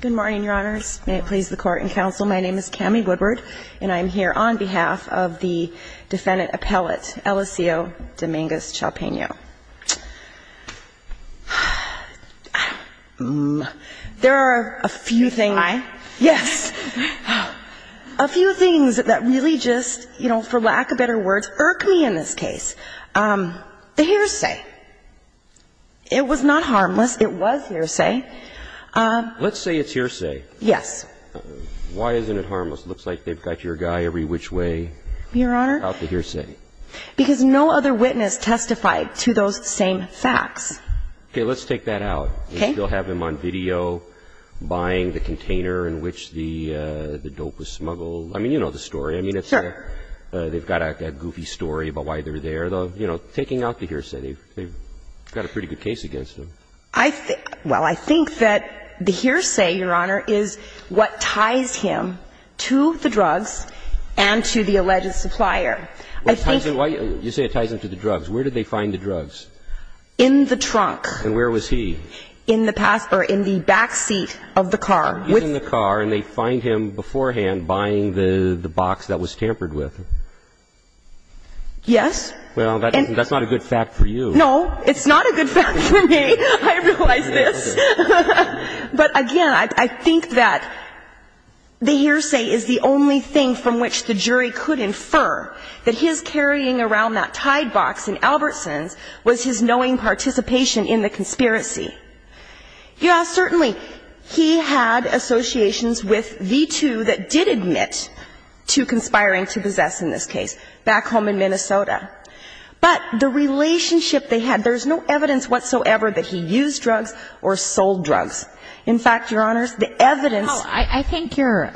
Good morning, Your Honors. May it please the Court and Counsel, my name is Cami Woodward, and I'm here on behalf of the defendant appellate, Eliseo Domingues-Chalpeno. There are a few things that really just, for lack of better words, irk me in this case. The hearsay. It was not harmless. It was hearsay. Let's say it's hearsay. Yes. Why isn't it harmless? It looks like they've got your guy every which way. Your Honor. Out the hearsay. Because no other witness testified to those same facts. Okay. Let's take that out. Okay. They still have him on video buying the container in which the dope was smuggled. I mean, you know the story. Sure. I mean, they've got a goofy story about why they're there. You know, taking out the hearsay, they've got a pretty good case against him. I think, well, I think that the hearsay, Your Honor, is what ties him to the drugs and to the alleged supplier. You say it ties him to the drugs. Where did they find the drugs? In the trunk. And where was he? In the back seat of the car. He's in the car, and they find him beforehand buying the box that was tampered with. Yes. Well, that's not a good fact for you. No, it's not a good fact for me. I realize this. But, again, I think that the hearsay is the only thing from which the jury could infer that his carrying around that tied box in Albertson's was his knowing participation in the conspiracy. Yes, certainly, he had associations with the two that did admit to conspiring to possess in this case, back home in Minnesota. But the relationship they had, there's no evidence whatsoever that he used drugs or sold drugs. In fact, Your Honors, the evidence ---- Well, I think you're,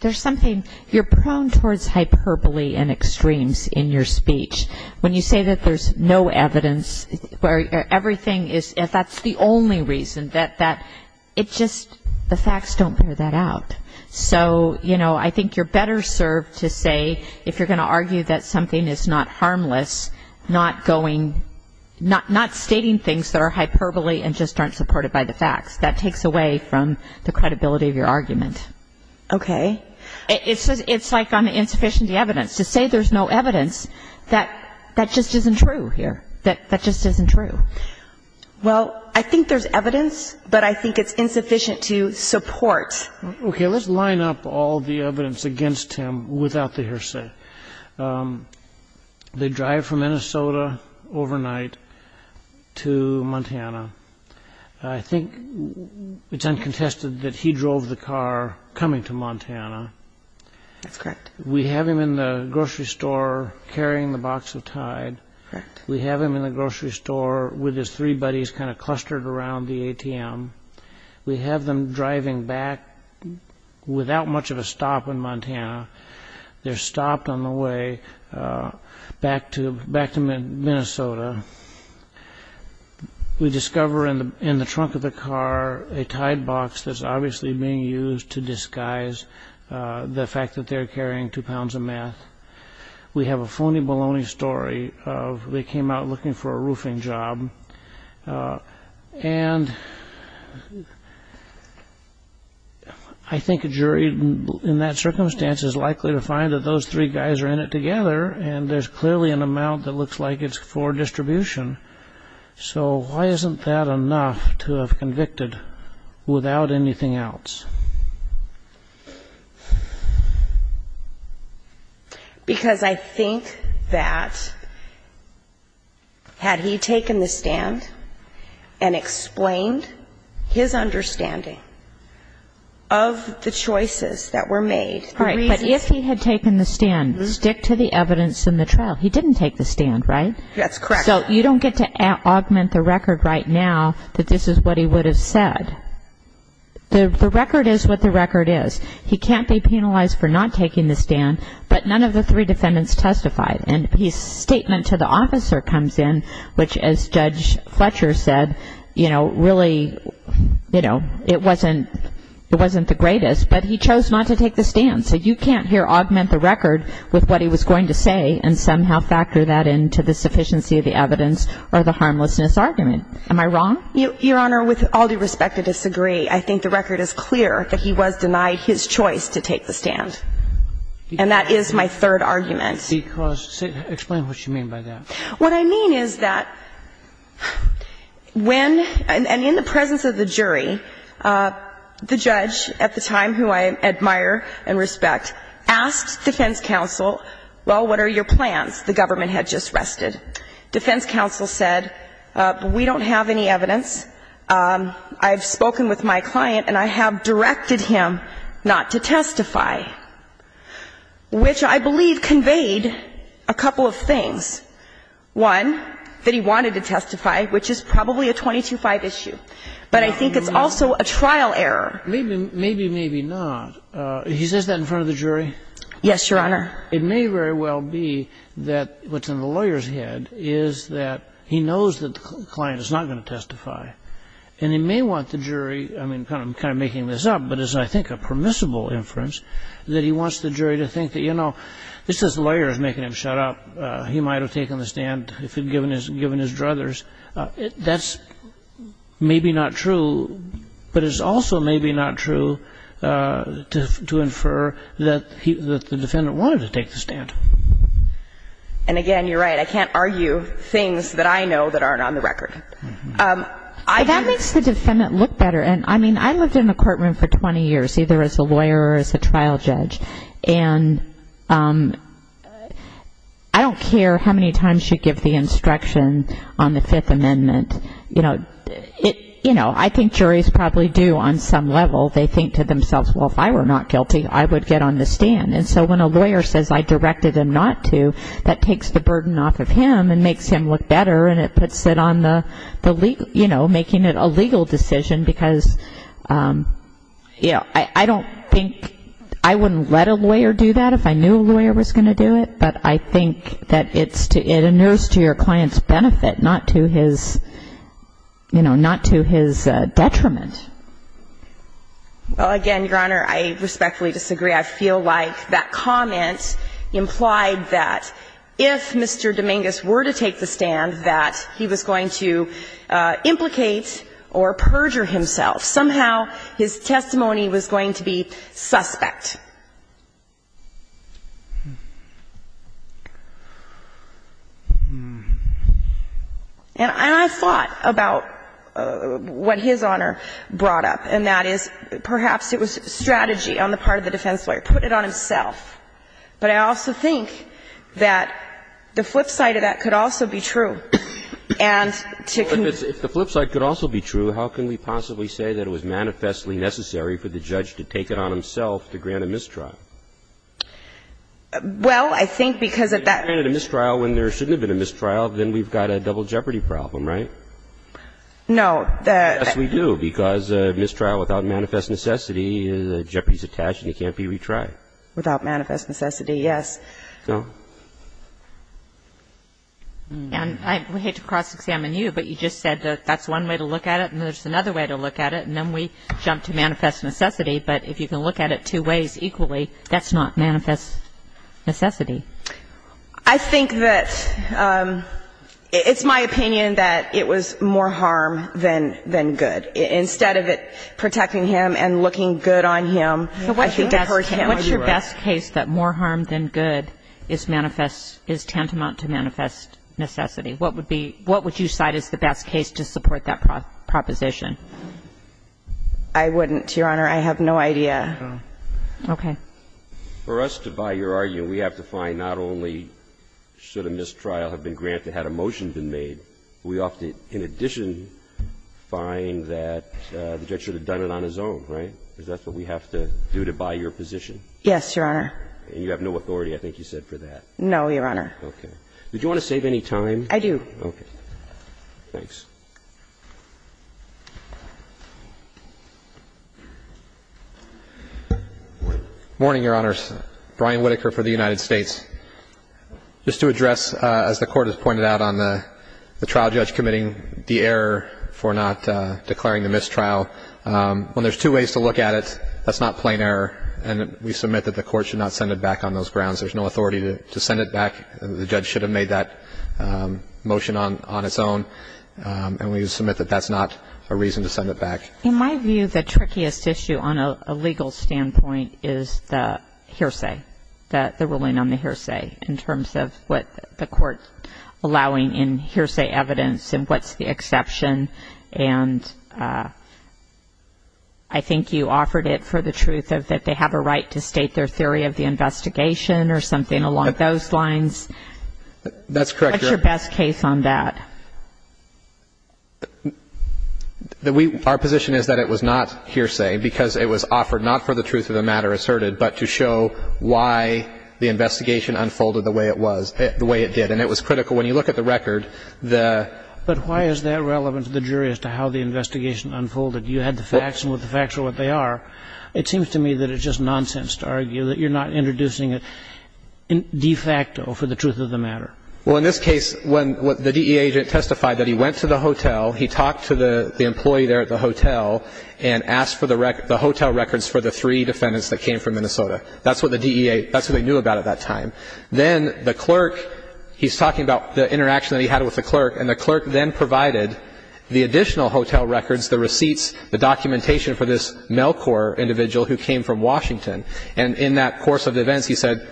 there's something, you're prone towards hyperbole and extremes in your speech. When you say that there's no evidence, where everything is, that's the only reason, that it just, the facts don't bear that out. So, you know, I think you're better served to say, if you're going to argue that something is not harmless, not going, not stating things that are hyperbole and just aren't supported by the facts. That takes away from the credibility of your argument. Okay. It's like on the insufficiency evidence. To say there's no evidence, that just isn't true here. That just isn't true. Well, I think there's evidence, but I think it's insufficient to support. Okay, let's line up all the evidence against him without the hearsay. They drive from Minnesota overnight to Montana. I think it's uncontested that he drove the car coming to Montana. That's correct. We have him in the grocery store carrying the box of Tide. Correct. We have him in the grocery store with his three buddies kind of clustered around the ATM. We have them driving back without much of a stop in Montana. They're stopped on the way back to Minnesota. We discover in the trunk of the car a Tide box that's obviously being used to disguise the fact that they're carrying two pounds of meth. We have a phony baloney story of they came out looking for a roofing job. And I think a jury in that circumstance is likely to find that those three guys are in it together and there's clearly an amount that looks like it's for distribution. So why isn't that enough to have convicted without anything else? Because I think that had he taken the stand and explained his understanding of the choices that were made, the reasons. All right, but if he had taken the stand, stick to the evidence in the trial. He didn't take the stand, right? That's correct. So you don't get to augment the record right now that this is what he would have said. The record is what the record is. He can't be penalized for not taking the stand, but none of the three defendants testified. And his statement to the officer comes in, which as Judge Fletcher said, you know, really, you know, it wasn't the greatest. But he chose not to take the stand. So you can't here augment the record with what he was going to say and somehow factor that into the sufficiency of the evidence or the harmlessness argument. Am I wrong? Your Honor, with all due respect, I disagree. I think the record is clear that he was denied his choice to take the stand. And that is my third argument. Explain what you mean by that. What I mean is that when, and in the presence of the jury, the judge at the time, who I admire and respect, asked defense counsel, well, what are your plans? The government had just rested. Defense counsel said, we don't have any evidence. I've spoken with my client, and I have directed him not to testify, which I believe conveyed a couple of things. One, that he wanted to testify, which is probably a 22-5 issue. But I think it's also a trial error. Maybe, maybe not. He says that in front of the jury? Yes, Your Honor. It may very well be that what's in the lawyer's head is that he knows that the client is not going to testify. And he may want the jury, I mean, I'm kind of making this up, but it's, I think, a permissible inference, that he wants the jury to think that, you know, this lawyer is making him shut up. He might have taken the stand if he'd given his druthers. That's maybe not true, but it's also maybe not true to infer that the defendant wanted to take the stand. And, again, you're right. I can't argue things that I know that aren't on the record. That makes the defendant look better. And, I mean, I lived in a courtroom for 20 years, either as a lawyer or as a trial judge. And I don't care how many times you give the instruction on the Fifth Amendment. You know, I think juries probably do on some level. They think to themselves, well, if I were not guilty, I would get on the stand. And so when a lawyer says, I directed him not to, that takes the burden off of him and makes him look better. And it puts it on the legal, you know, making it a legal decision, because, you know, I don't think I wouldn't let a lawyer do that if I knew a lawyer was going to do it. But I think that it's to, it inures to your client's benefit, not to his, you know, not to his detriment. Well, again, Your Honor, I respectfully disagree. I feel like that comment implied that if Mr. Dominguez were to take the stand, that he was going to implicate or perjure himself. Somehow his testimony was going to be suspect. And I've thought about what His Honor brought up, and that is perhaps it was strategy on the part of the defense lawyer. Put it on himself. But I also think that the flip side of that could also be true. And to conclude. If the flip side could also be true, how can we possibly say that it was manifestly necessary for the judge to take it on himself to grant a mistrial? Well, I think because of that. If he granted a mistrial when there shouldn't have been a mistrial, then we've got a double jeopardy problem, right? No. Yes, we do. Because a mistrial without manifest necessity, the jeopardy is attached and it can't be retried. Without manifest necessity, yes. No. And I hate to cross-examine you, but you just said that that's one way to look at it and there's another way to look at it, and then we jump to manifest necessity. But if you can look at it two ways equally, that's not manifest necessity. I think that it's my opinion that it was more harm than good. Instead of it protecting him and looking good on him, I think it hurts him. What's your best case that more harm than good is manifest – is tantamount to manifest necessity? What would be – what would you cite as the best case to support that proposition? I wouldn't, Your Honor. I have no idea. Okay. For us to buy your argument, we have to find not only should a mistrial have been granted had a motion been made, we often, in addition, find that the judge should have done it on his own, right? Because that's what we have to do to buy your position. Yes, Your Honor. And you have no authority, I think you said, for that. No, Your Honor. Okay. Would you want to save any time? Okay. Thanks. Morning, Your Honors. Brian Whitaker for the United States. Just to address, as the Court has pointed out on the trial judge committing the error for not declaring the mistrial, when there's two ways to look at it, that's not plain error. And we submit that the Court should not send it back on those grounds. There's no authority to send it back. The judge should have made that motion on its own. And we submit that that's not a reason to send it back. In my view, the trickiest issue on a legal standpoint is the hearsay, the ruling on the hearsay in terms of what the Court allowing in hearsay evidence and what's the exception. And I think you offered it for the truth of that they have a right to state their theory of the investigation or something along those lines. That's correct, Your Honor. And what's your position on that? Our position is that it was not hearsay because it was offered not for the truth of the matter asserted, but to show why the investigation unfolded the way it was, the way it did. And it was critical. When you look at the record, the ---- But why is that relevant to the jury as to how the investigation unfolded? You had the facts, and with the facts are what they are. It seems to me that it's just nonsense to argue that you're not introducing it de facto for the truth of the matter. Well, in this case, when the DEA agent testified that he went to the hotel, he talked to the employee there at the hotel and asked for the hotel records for the three defendants that came from Minnesota. That's what the DEA ---- that's what they knew about at that time. Then the clerk, he's talking about the interaction that he had with the clerk, and the clerk then provided the additional hotel records, the receipts, the documentation for this Melcore individual who came from Washington. And in that course of events, he said,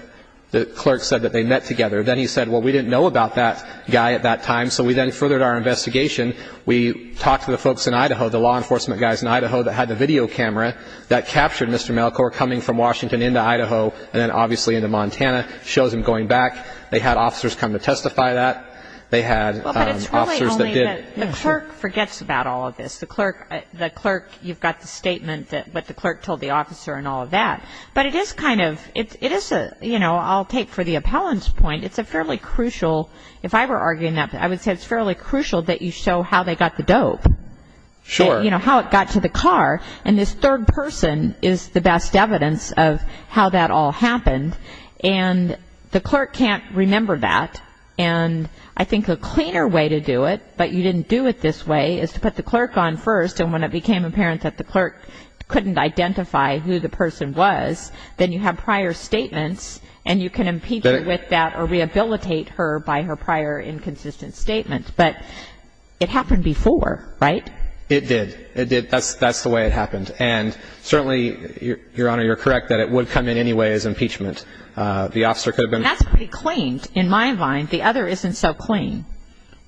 the clerk said that they met together. Then he said, well, we didn't know about that guy at that time. So we then furthered our investigation. We talked to the folks in Idaho, the law enforcement guys in Idaho that had the video camera that captured Mr. Melcore coming from Washington into Idaho and then obviously into Montana, shows him going back. They had officers come to testify that. They had officers that did. But it's really only that the clerk forgets about all of this. The clerk, you've got the statement that what the clerk told the officer and all of that. But it is kind of ---- it is a, you know, I'll take for the appellant's point, it's a fairly crucial, if I were arguing that, I would say it's fairly crucial that you show how they got the dope. Sure. You know, how it got to the car. And this third person is the best evidence of how that all happened. And the clerk can't remember that. And I think a cleaner way to do it, but you didn't do it this way, is to put the clerk on first, and when it became apparent that the clerk couldn't identify who the person was, then you have prior statements and you can impeach her with that or rehabilitate her by her prior inconsistent statement. But it happened before, right? It did. It did. That's the way it happened. And certainly, Your Honor, you're correct that it would come in anyway as impeachment. The officer could have been ---- That's pretty clean in my mind. The other isn't so clean.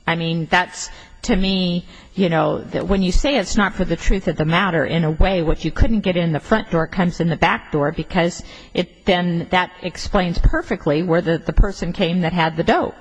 I mean, that's, to me, you know, when you say it's not for the truth of the matter, in a way what you couldn't get in the front door comes in the back door because then that explains perfectly where the person came that had the dope.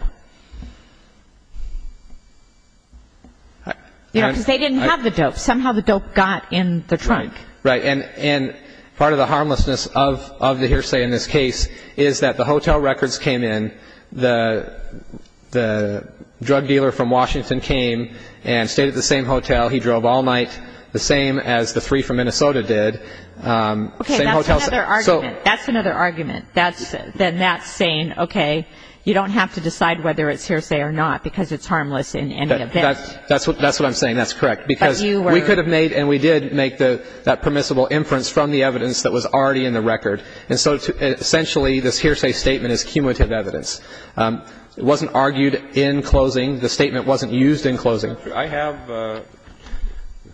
You know, because they didn't have the dope. Somehow the dope got in the trunk. Right. And part of the harmlessness of the hearsay in this case is that the hotel records came in, the drug dealer from Washington came and stayed at the same hotel. He drove all night, the same as the three from Minnesota did. Okay. That's another argument. That's another argument. Then that's saying, okay, you don't have to decide whether it's hearsay or not because it's harmless in any event. That's what I'm saying. That's correct. Because we could have made and we did make that permissible inference from the evidence that was already in the record. And so essentially this hearsay statement is cumulative evidence. It wasn't argued in closing. The statement wasn't used in closing. I have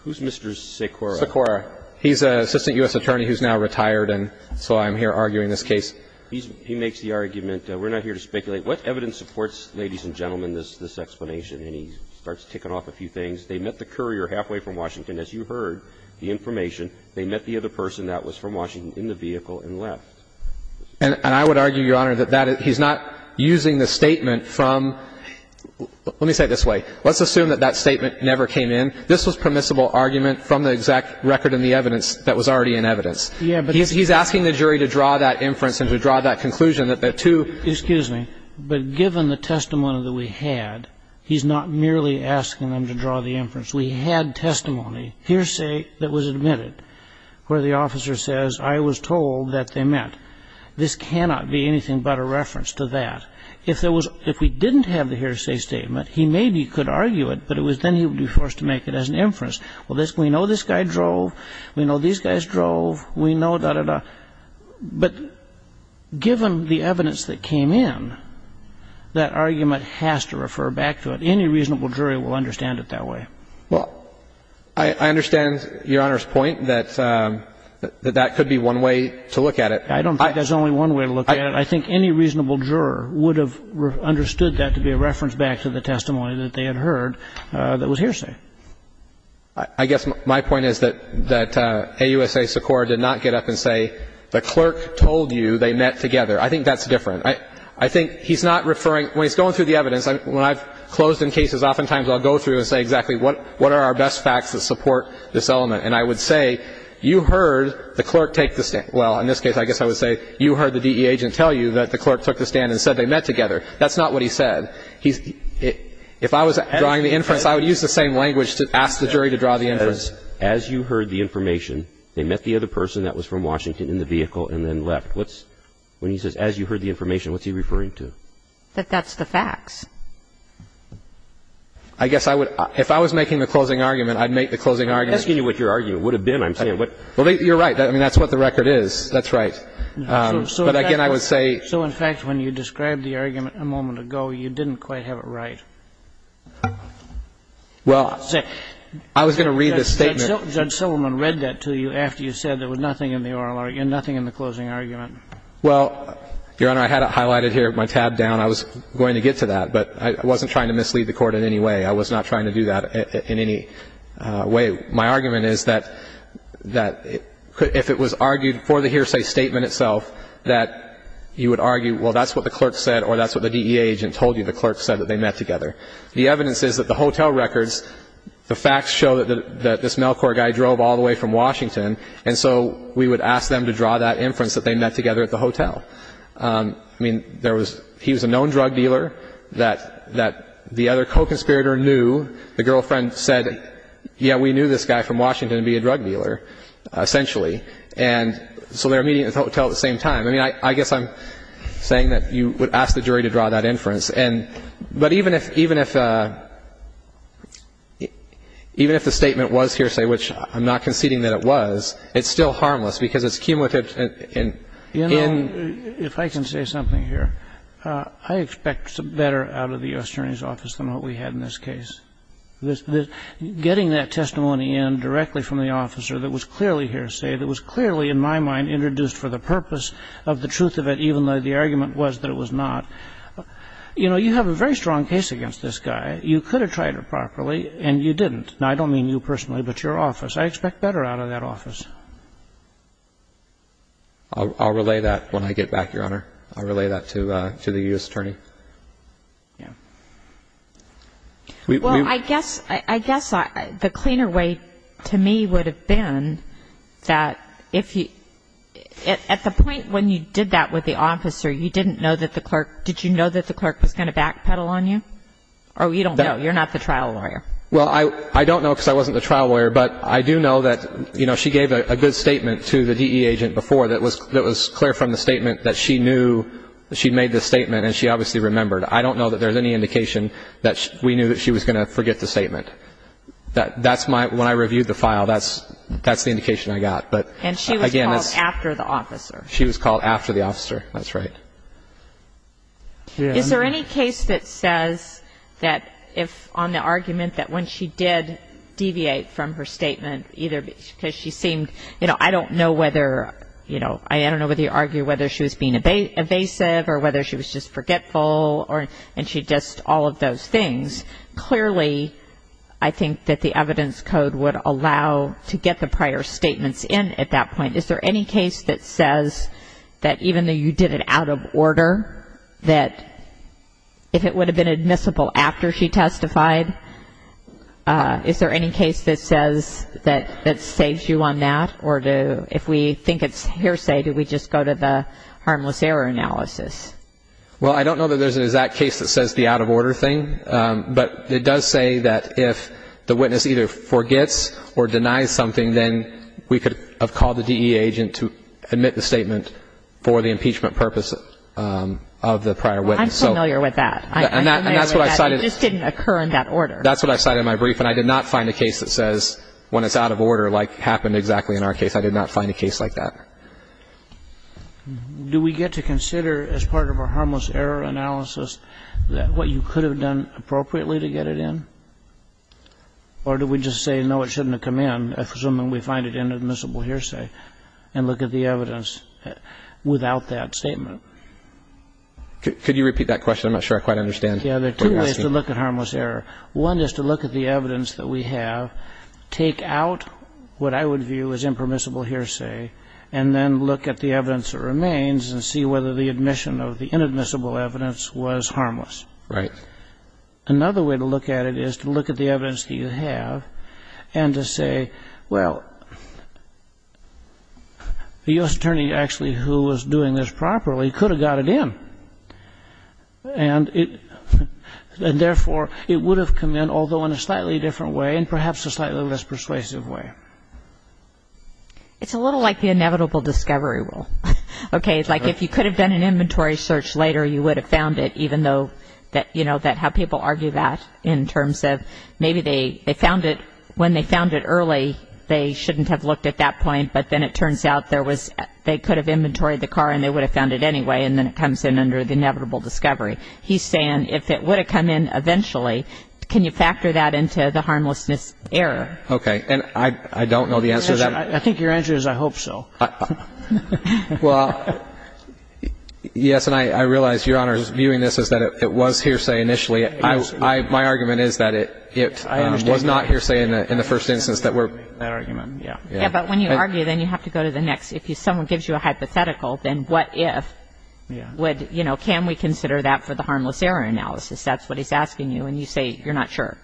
Mr. Sikora. Sikora. He's an assistant U.S. attorney who's now retired, and so I'm here arguing this case. He makes the argument, we're not here to speculate. What evidence supports, ladies and gentlemen, this explanation? And he starts ticking off a few things. They met the courier halfway from Washington. As you heard the information, they met the other person that was from Washington in the vehicle and left. And I would argue, Your Honor, that that is he's not using the statement from, let me say it this way. Let's assume that that statement never came in. This was permissible argument from the exact record in the evidence that was already in evidence. Yeah, but he's asking the jury to draw that inference and to draw that conclusion that the two. Excuse me. But given the testimony that we had, he's not merely asking them to draw the inference. We had testimony, hearsay, that was admitted where the officer says, I was told that they met. This cannot be anything but a reference to that. If we didn't have the hearsay statement, he maybe could argue it, but then he would be forced to make it as an inference. Well, we know this guy drove. We know these guys drove. We know da-da-da. But given the evidence that came in, that argument has to refer back to it. Any reasonable jury will understand it that way. Well, I understand Your Honor's point that that could be one way to look at it. I don't think there's only one way to look at it. I think any reasonable juror would have understood that to be a reference back to the testimony that they had heard that was hearsay. I guess my point is that AUSA Secor did not get up and say, the clerk told you they met together. I think that's different. I think he's not referring, when he's going through the evidence, when I've closed in cases, oftentimes I'll go through and say exactly, what are our best facts that support this element? And I would say, you heard the clerk take the stand. Well, in this case, I guess I would say, you heard the DE agent tell you that the clerk took the stand and said they met together. That's not what he said. If I was drawing the inference, I would use the same language to ask the jury to draw the inference. As you heard the information, they met the other person that was from Washington in the vehicle and then left. When he says, as you heard the information, what's he referring to? That that's the facts. I guess I would, if I was making the closing argument, I'd make the closing argument. I'm asking you what your argument would have been. I'm saying what. Well, you're right. I mean, that's what the record is. That's right. But again, I would say. So in fact, when you described the argument a moment ago, you didn't quite have it right. Well, I was going to read the statement. Judge Silverman read that to you after you said there was nothing in the oral argument, nothing in the closing argument. Well, Your Honor, I had it highlighted here, my tab down. I was going to get to that. But I wasn't trying to mislead the Court in any way. I was not trying to do that in any way. My argument is that if it was argued for the hearsay statement itself, that you would argue, well, that's what the clerk said or that's what the DEA agent told you. The clerk said that they met together. The evidence is that the hotel records, the facts show that this Melcore guy drove all the way from Washington. And so we would ask them to draw that inference that they met together at the hotel. I mean, he was a known drug dealer that the other co-conspirator knew. The girlfriend said, yeah, we knew this guy from Washington would be a drug dealer, essentially. And so they were meeting at the hotel at the same time. I mean, I guess I'm saying that you would ask the jury to draw that inference. But even if the statement was hearsay, which I'm not conceding that it was, it's still harmless because it came with it in the case. You know, if I can say something here, I expect better out of the U.S. Attorney's office than what we had in this case. Getting that testimony in directly from the officer that was clearly hearsay, that was clearly, in my mind, introduced for the purpose of the truth of it, even though the argument was that it was not, you know, you have a very strong case against this guy. You could have tried it properly, and you didn't. Now, I don't mean you personally, but your office. I expect better out of that office. I'll relay that when I get back, Your Honor. I'll relay that to the U.S. Attorney. Yeah. Well, I guess the cleaner way to me would have been that if you at the point when you did that with the officer, you didn't know that the clerk, did you know that the clerk was going to backpedal on you? Or you don't know. You're not the trial lawyer. Well, I don't know because I wasn't the trial lawyer. But I do know that, you know, she gave a good statement to the DE agent before that was clear from the statement that she knew she made the statement, and she obviously remembered. I don't know that there's any indication that we knew that she was going to forget the statement. That's my ñ when I reviewed the file, that's the indication I got. But, again, it's ñ And she was called after the officer. She was called after the officer. That's right. Yeah. Is there any case that says that if on the argument that when she did deviate from her statement, either because she seemed ñ you know, I don't know whether, you know, I don't know whether you argue whether she was being evasive or whether she was just forgetful or ñ and she just all of those things. Clearly, I think that the evidence code would allow to get the prior statements in at that point. Is there any case that says that even though you did it out of order, that if it would have been admissible after she testified, is there any case that says that saves you on that? Or if we think it's hearsay, do we just go to the harmless error analysis? Well, I don't know that there's an exact case that says the out-of-order thing, but it does say that if the witness either forgets or denies something, then we could have called the DEA agent to admit the statement for the impeachment purpose of the prior witness. Well, I'm familiar with that. And that's what I cited. I'm familiar with that. It just didn't occur in that order. That's what I cited in my brief, and I did not find a case that says when it's out of order, like happened exactly in our case. I did not find a case like that. Do we get to consider as part of our harmless error analysis that what you could have done appropriately to get it in? Or do we just say, no, it shouldn't have come in, assuming we find it inadmissible hearsay, and look at the evidence without that statement? Could you repeat that question? I'm not sure I quite understand what you're asking. Yeah, there are two ways to look at harmless error. One is to look at the evidence that we have, take out what I would view as impermissible hearsay, and then look at the evidence that remains and see whether the admission of the inadmissible evidence was harmless. Right. Another way to look at it is to look at the evidence that you have and to say, well, the U.S. attorney actually who was doing this properly could have got it in, and therefore, it would have come in, although in a slightly different way and perhaps a slightly less persuasive way. It's a little like the inevitable discovery rule. Okay, it's like if you could have done an inventory search later, you would have found it, even though, you know, how people argue that in terms of maybe they found it when they found it early, they shouldn't have looked at that point, but then it turns out there was they could have inventoried the car and they would have found it anyway, and then it comes in under the inevitable discovery. He's saying if it would have come in eventually, can you factor that into the harmlessness error? Okay, and I don't know the answer to that. I think your answer is I hope so. Well, yes, and I realize, Your Honor, viewing this as that it was hearsay initially. My argument is that it was not hearsay in the first instance. That argument, yeah. Yeah, but when you argue, then you have to go to the next. If someone gives you a hypothetical, then what if would, you know, can we consider that for the harmless error analysis? That's what he's asking you, and you say you're not sure.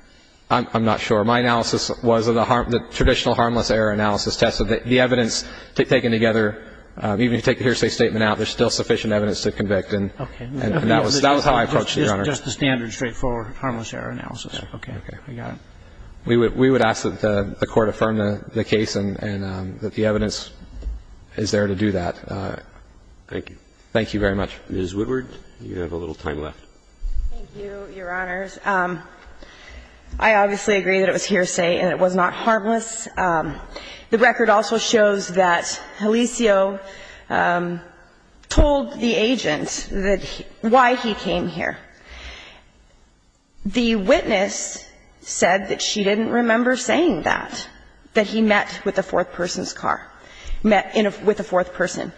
I'm not sure. My analysis was the traditional harmless error analysis test. So the evidence taken together, even if you take the hearsay statement out, there's still sufficient evidence to convict, and that was how I approached it, Your Honor. Just the standard straightforward harmless error analysis. Okay. We got it. We would ask that the Court affirm the case and that the evidence is there to do that. Thank you. Thank you very much. Ms. Woodward, you have a little time left. Thank you, Your Honors. I obviously agree that it was hearsay and it was not harmless. The record also shows that Alicio told the agent why he came here. The witness said that she didn't remember saying that, that he met with a fourth person's car, met with a fourth person.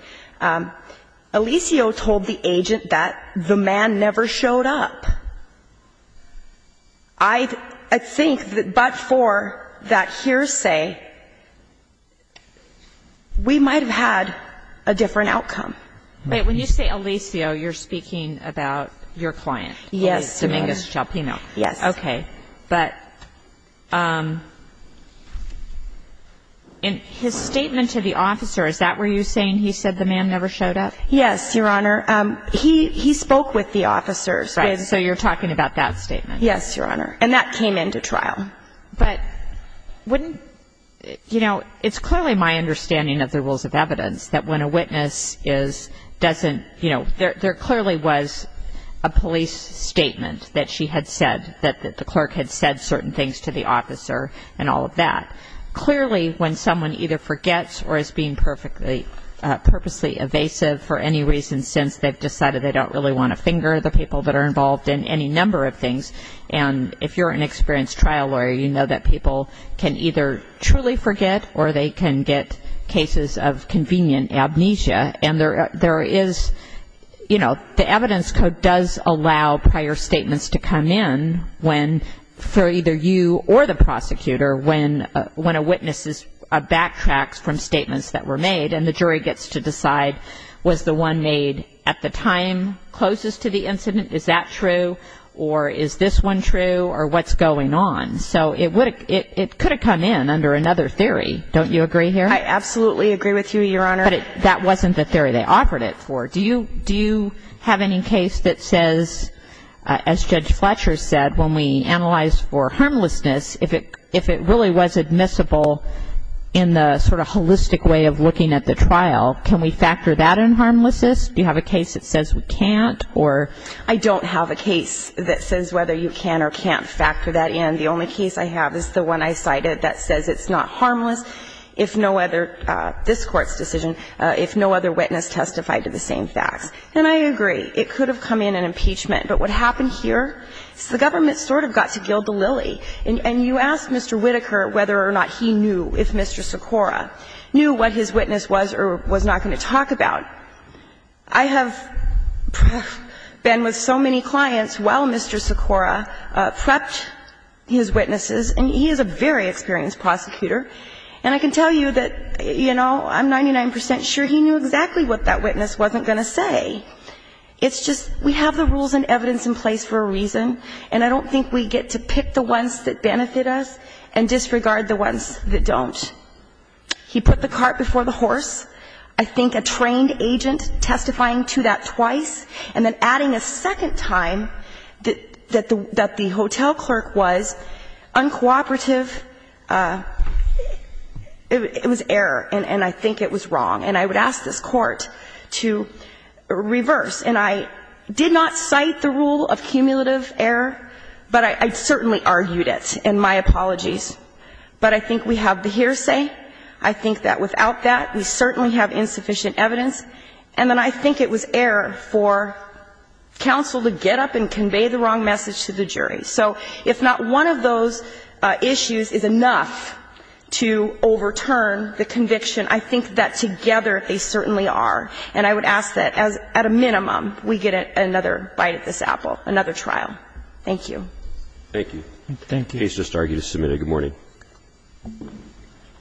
Alicio told the agent that the man never showed up. I think that but for that hearsay, we might have had a different outcome. Wait. When you say Alicio, you're speaking about your client. Yes. Dominguez Chalpino. Yes. Okay. But in his statement to the officer, is that where you're saying he said the man never showed up? Yes, Your Honor. He spoke with the officer. Right. So you're talking about that statement. Yes, Your Honor. And that came into trial. But wouldn't, you know, it's clearly my understanding of the rules of evidence that when a witness is, doesn't, you know, there clearly was a police statement that she had said, that the clerk had said certain things to the officer and all of that. Clearly, when someone either forgets or is being purposely evasive for any reason since they've decided they don't really want to finger the people that are involved in any number of things. And if you're an experienced trial lawyer, you know that people can either truly forget or they can get cases of convenient amnesia. And there is, you know, the evidence code does allow prior statements to come in when for either you or the prosecutor when a witness backtracks from statements that were made and the jury gets to decide was the one made at the time closest to the incident, is that true? Or is this one true? Or what's going on? So it could have come in under another theory. Don't you agree here? I absolutely agree with you, Your Honor. But that wasn't the theory they offered it for. Do you have any case that says, as Judge Fletcher said, when we analyzed for harmlessness, if it really was admissible in the sort of holistic way of looking at the trial, can we factor that in harmlessness? Do you have a case that says we can't? I don't have a case that says whether you can or can't factor that in. The only case I have is the one I cited that says it's not harmless if no other this Court's decision, if no other witness testified to the same facts. And I agree. It could have come in an impeachment. But what happened here is the government sort of got to gild the lily. And you asked Mr. Whitaker whether or not he knew if Mr. Socorro knew what his witness was or was not going to talk about. I have been with so many clients while Mr. Socorro prepped his witnesses, and he is a very experienced prosecutor. And I can tell you that, you know, I'm 99 percent sure he knew exactly what that witness wasn't going to say. It's just we have the rules and evidence in place for a reason, and I don't think we get to pick the ones that benefit us and disregard the ones that don't. He put the cart before the horse. I think a trained agent testifying to that twice and then adding a second time that the hotel clerk was uncooperative, it was error, and I think it was wrong. And I would ask this Court to reverse. And I did not cite the rule of cumulative error, but I certainly argued it. And my apologies. But I think we have the hearsay. I think that without that, we certainly have insufficient evidence. And then I think it was error for counsel to get up and convey the wrong message to the jury. So if not one of those issues is enough to overturn the conviction, I think that together, I think it's a And I would ask that at a minimum, we get another bite at this apple, another trial. Thank you. Thank you. Thank you. The case is submitted. Good morning.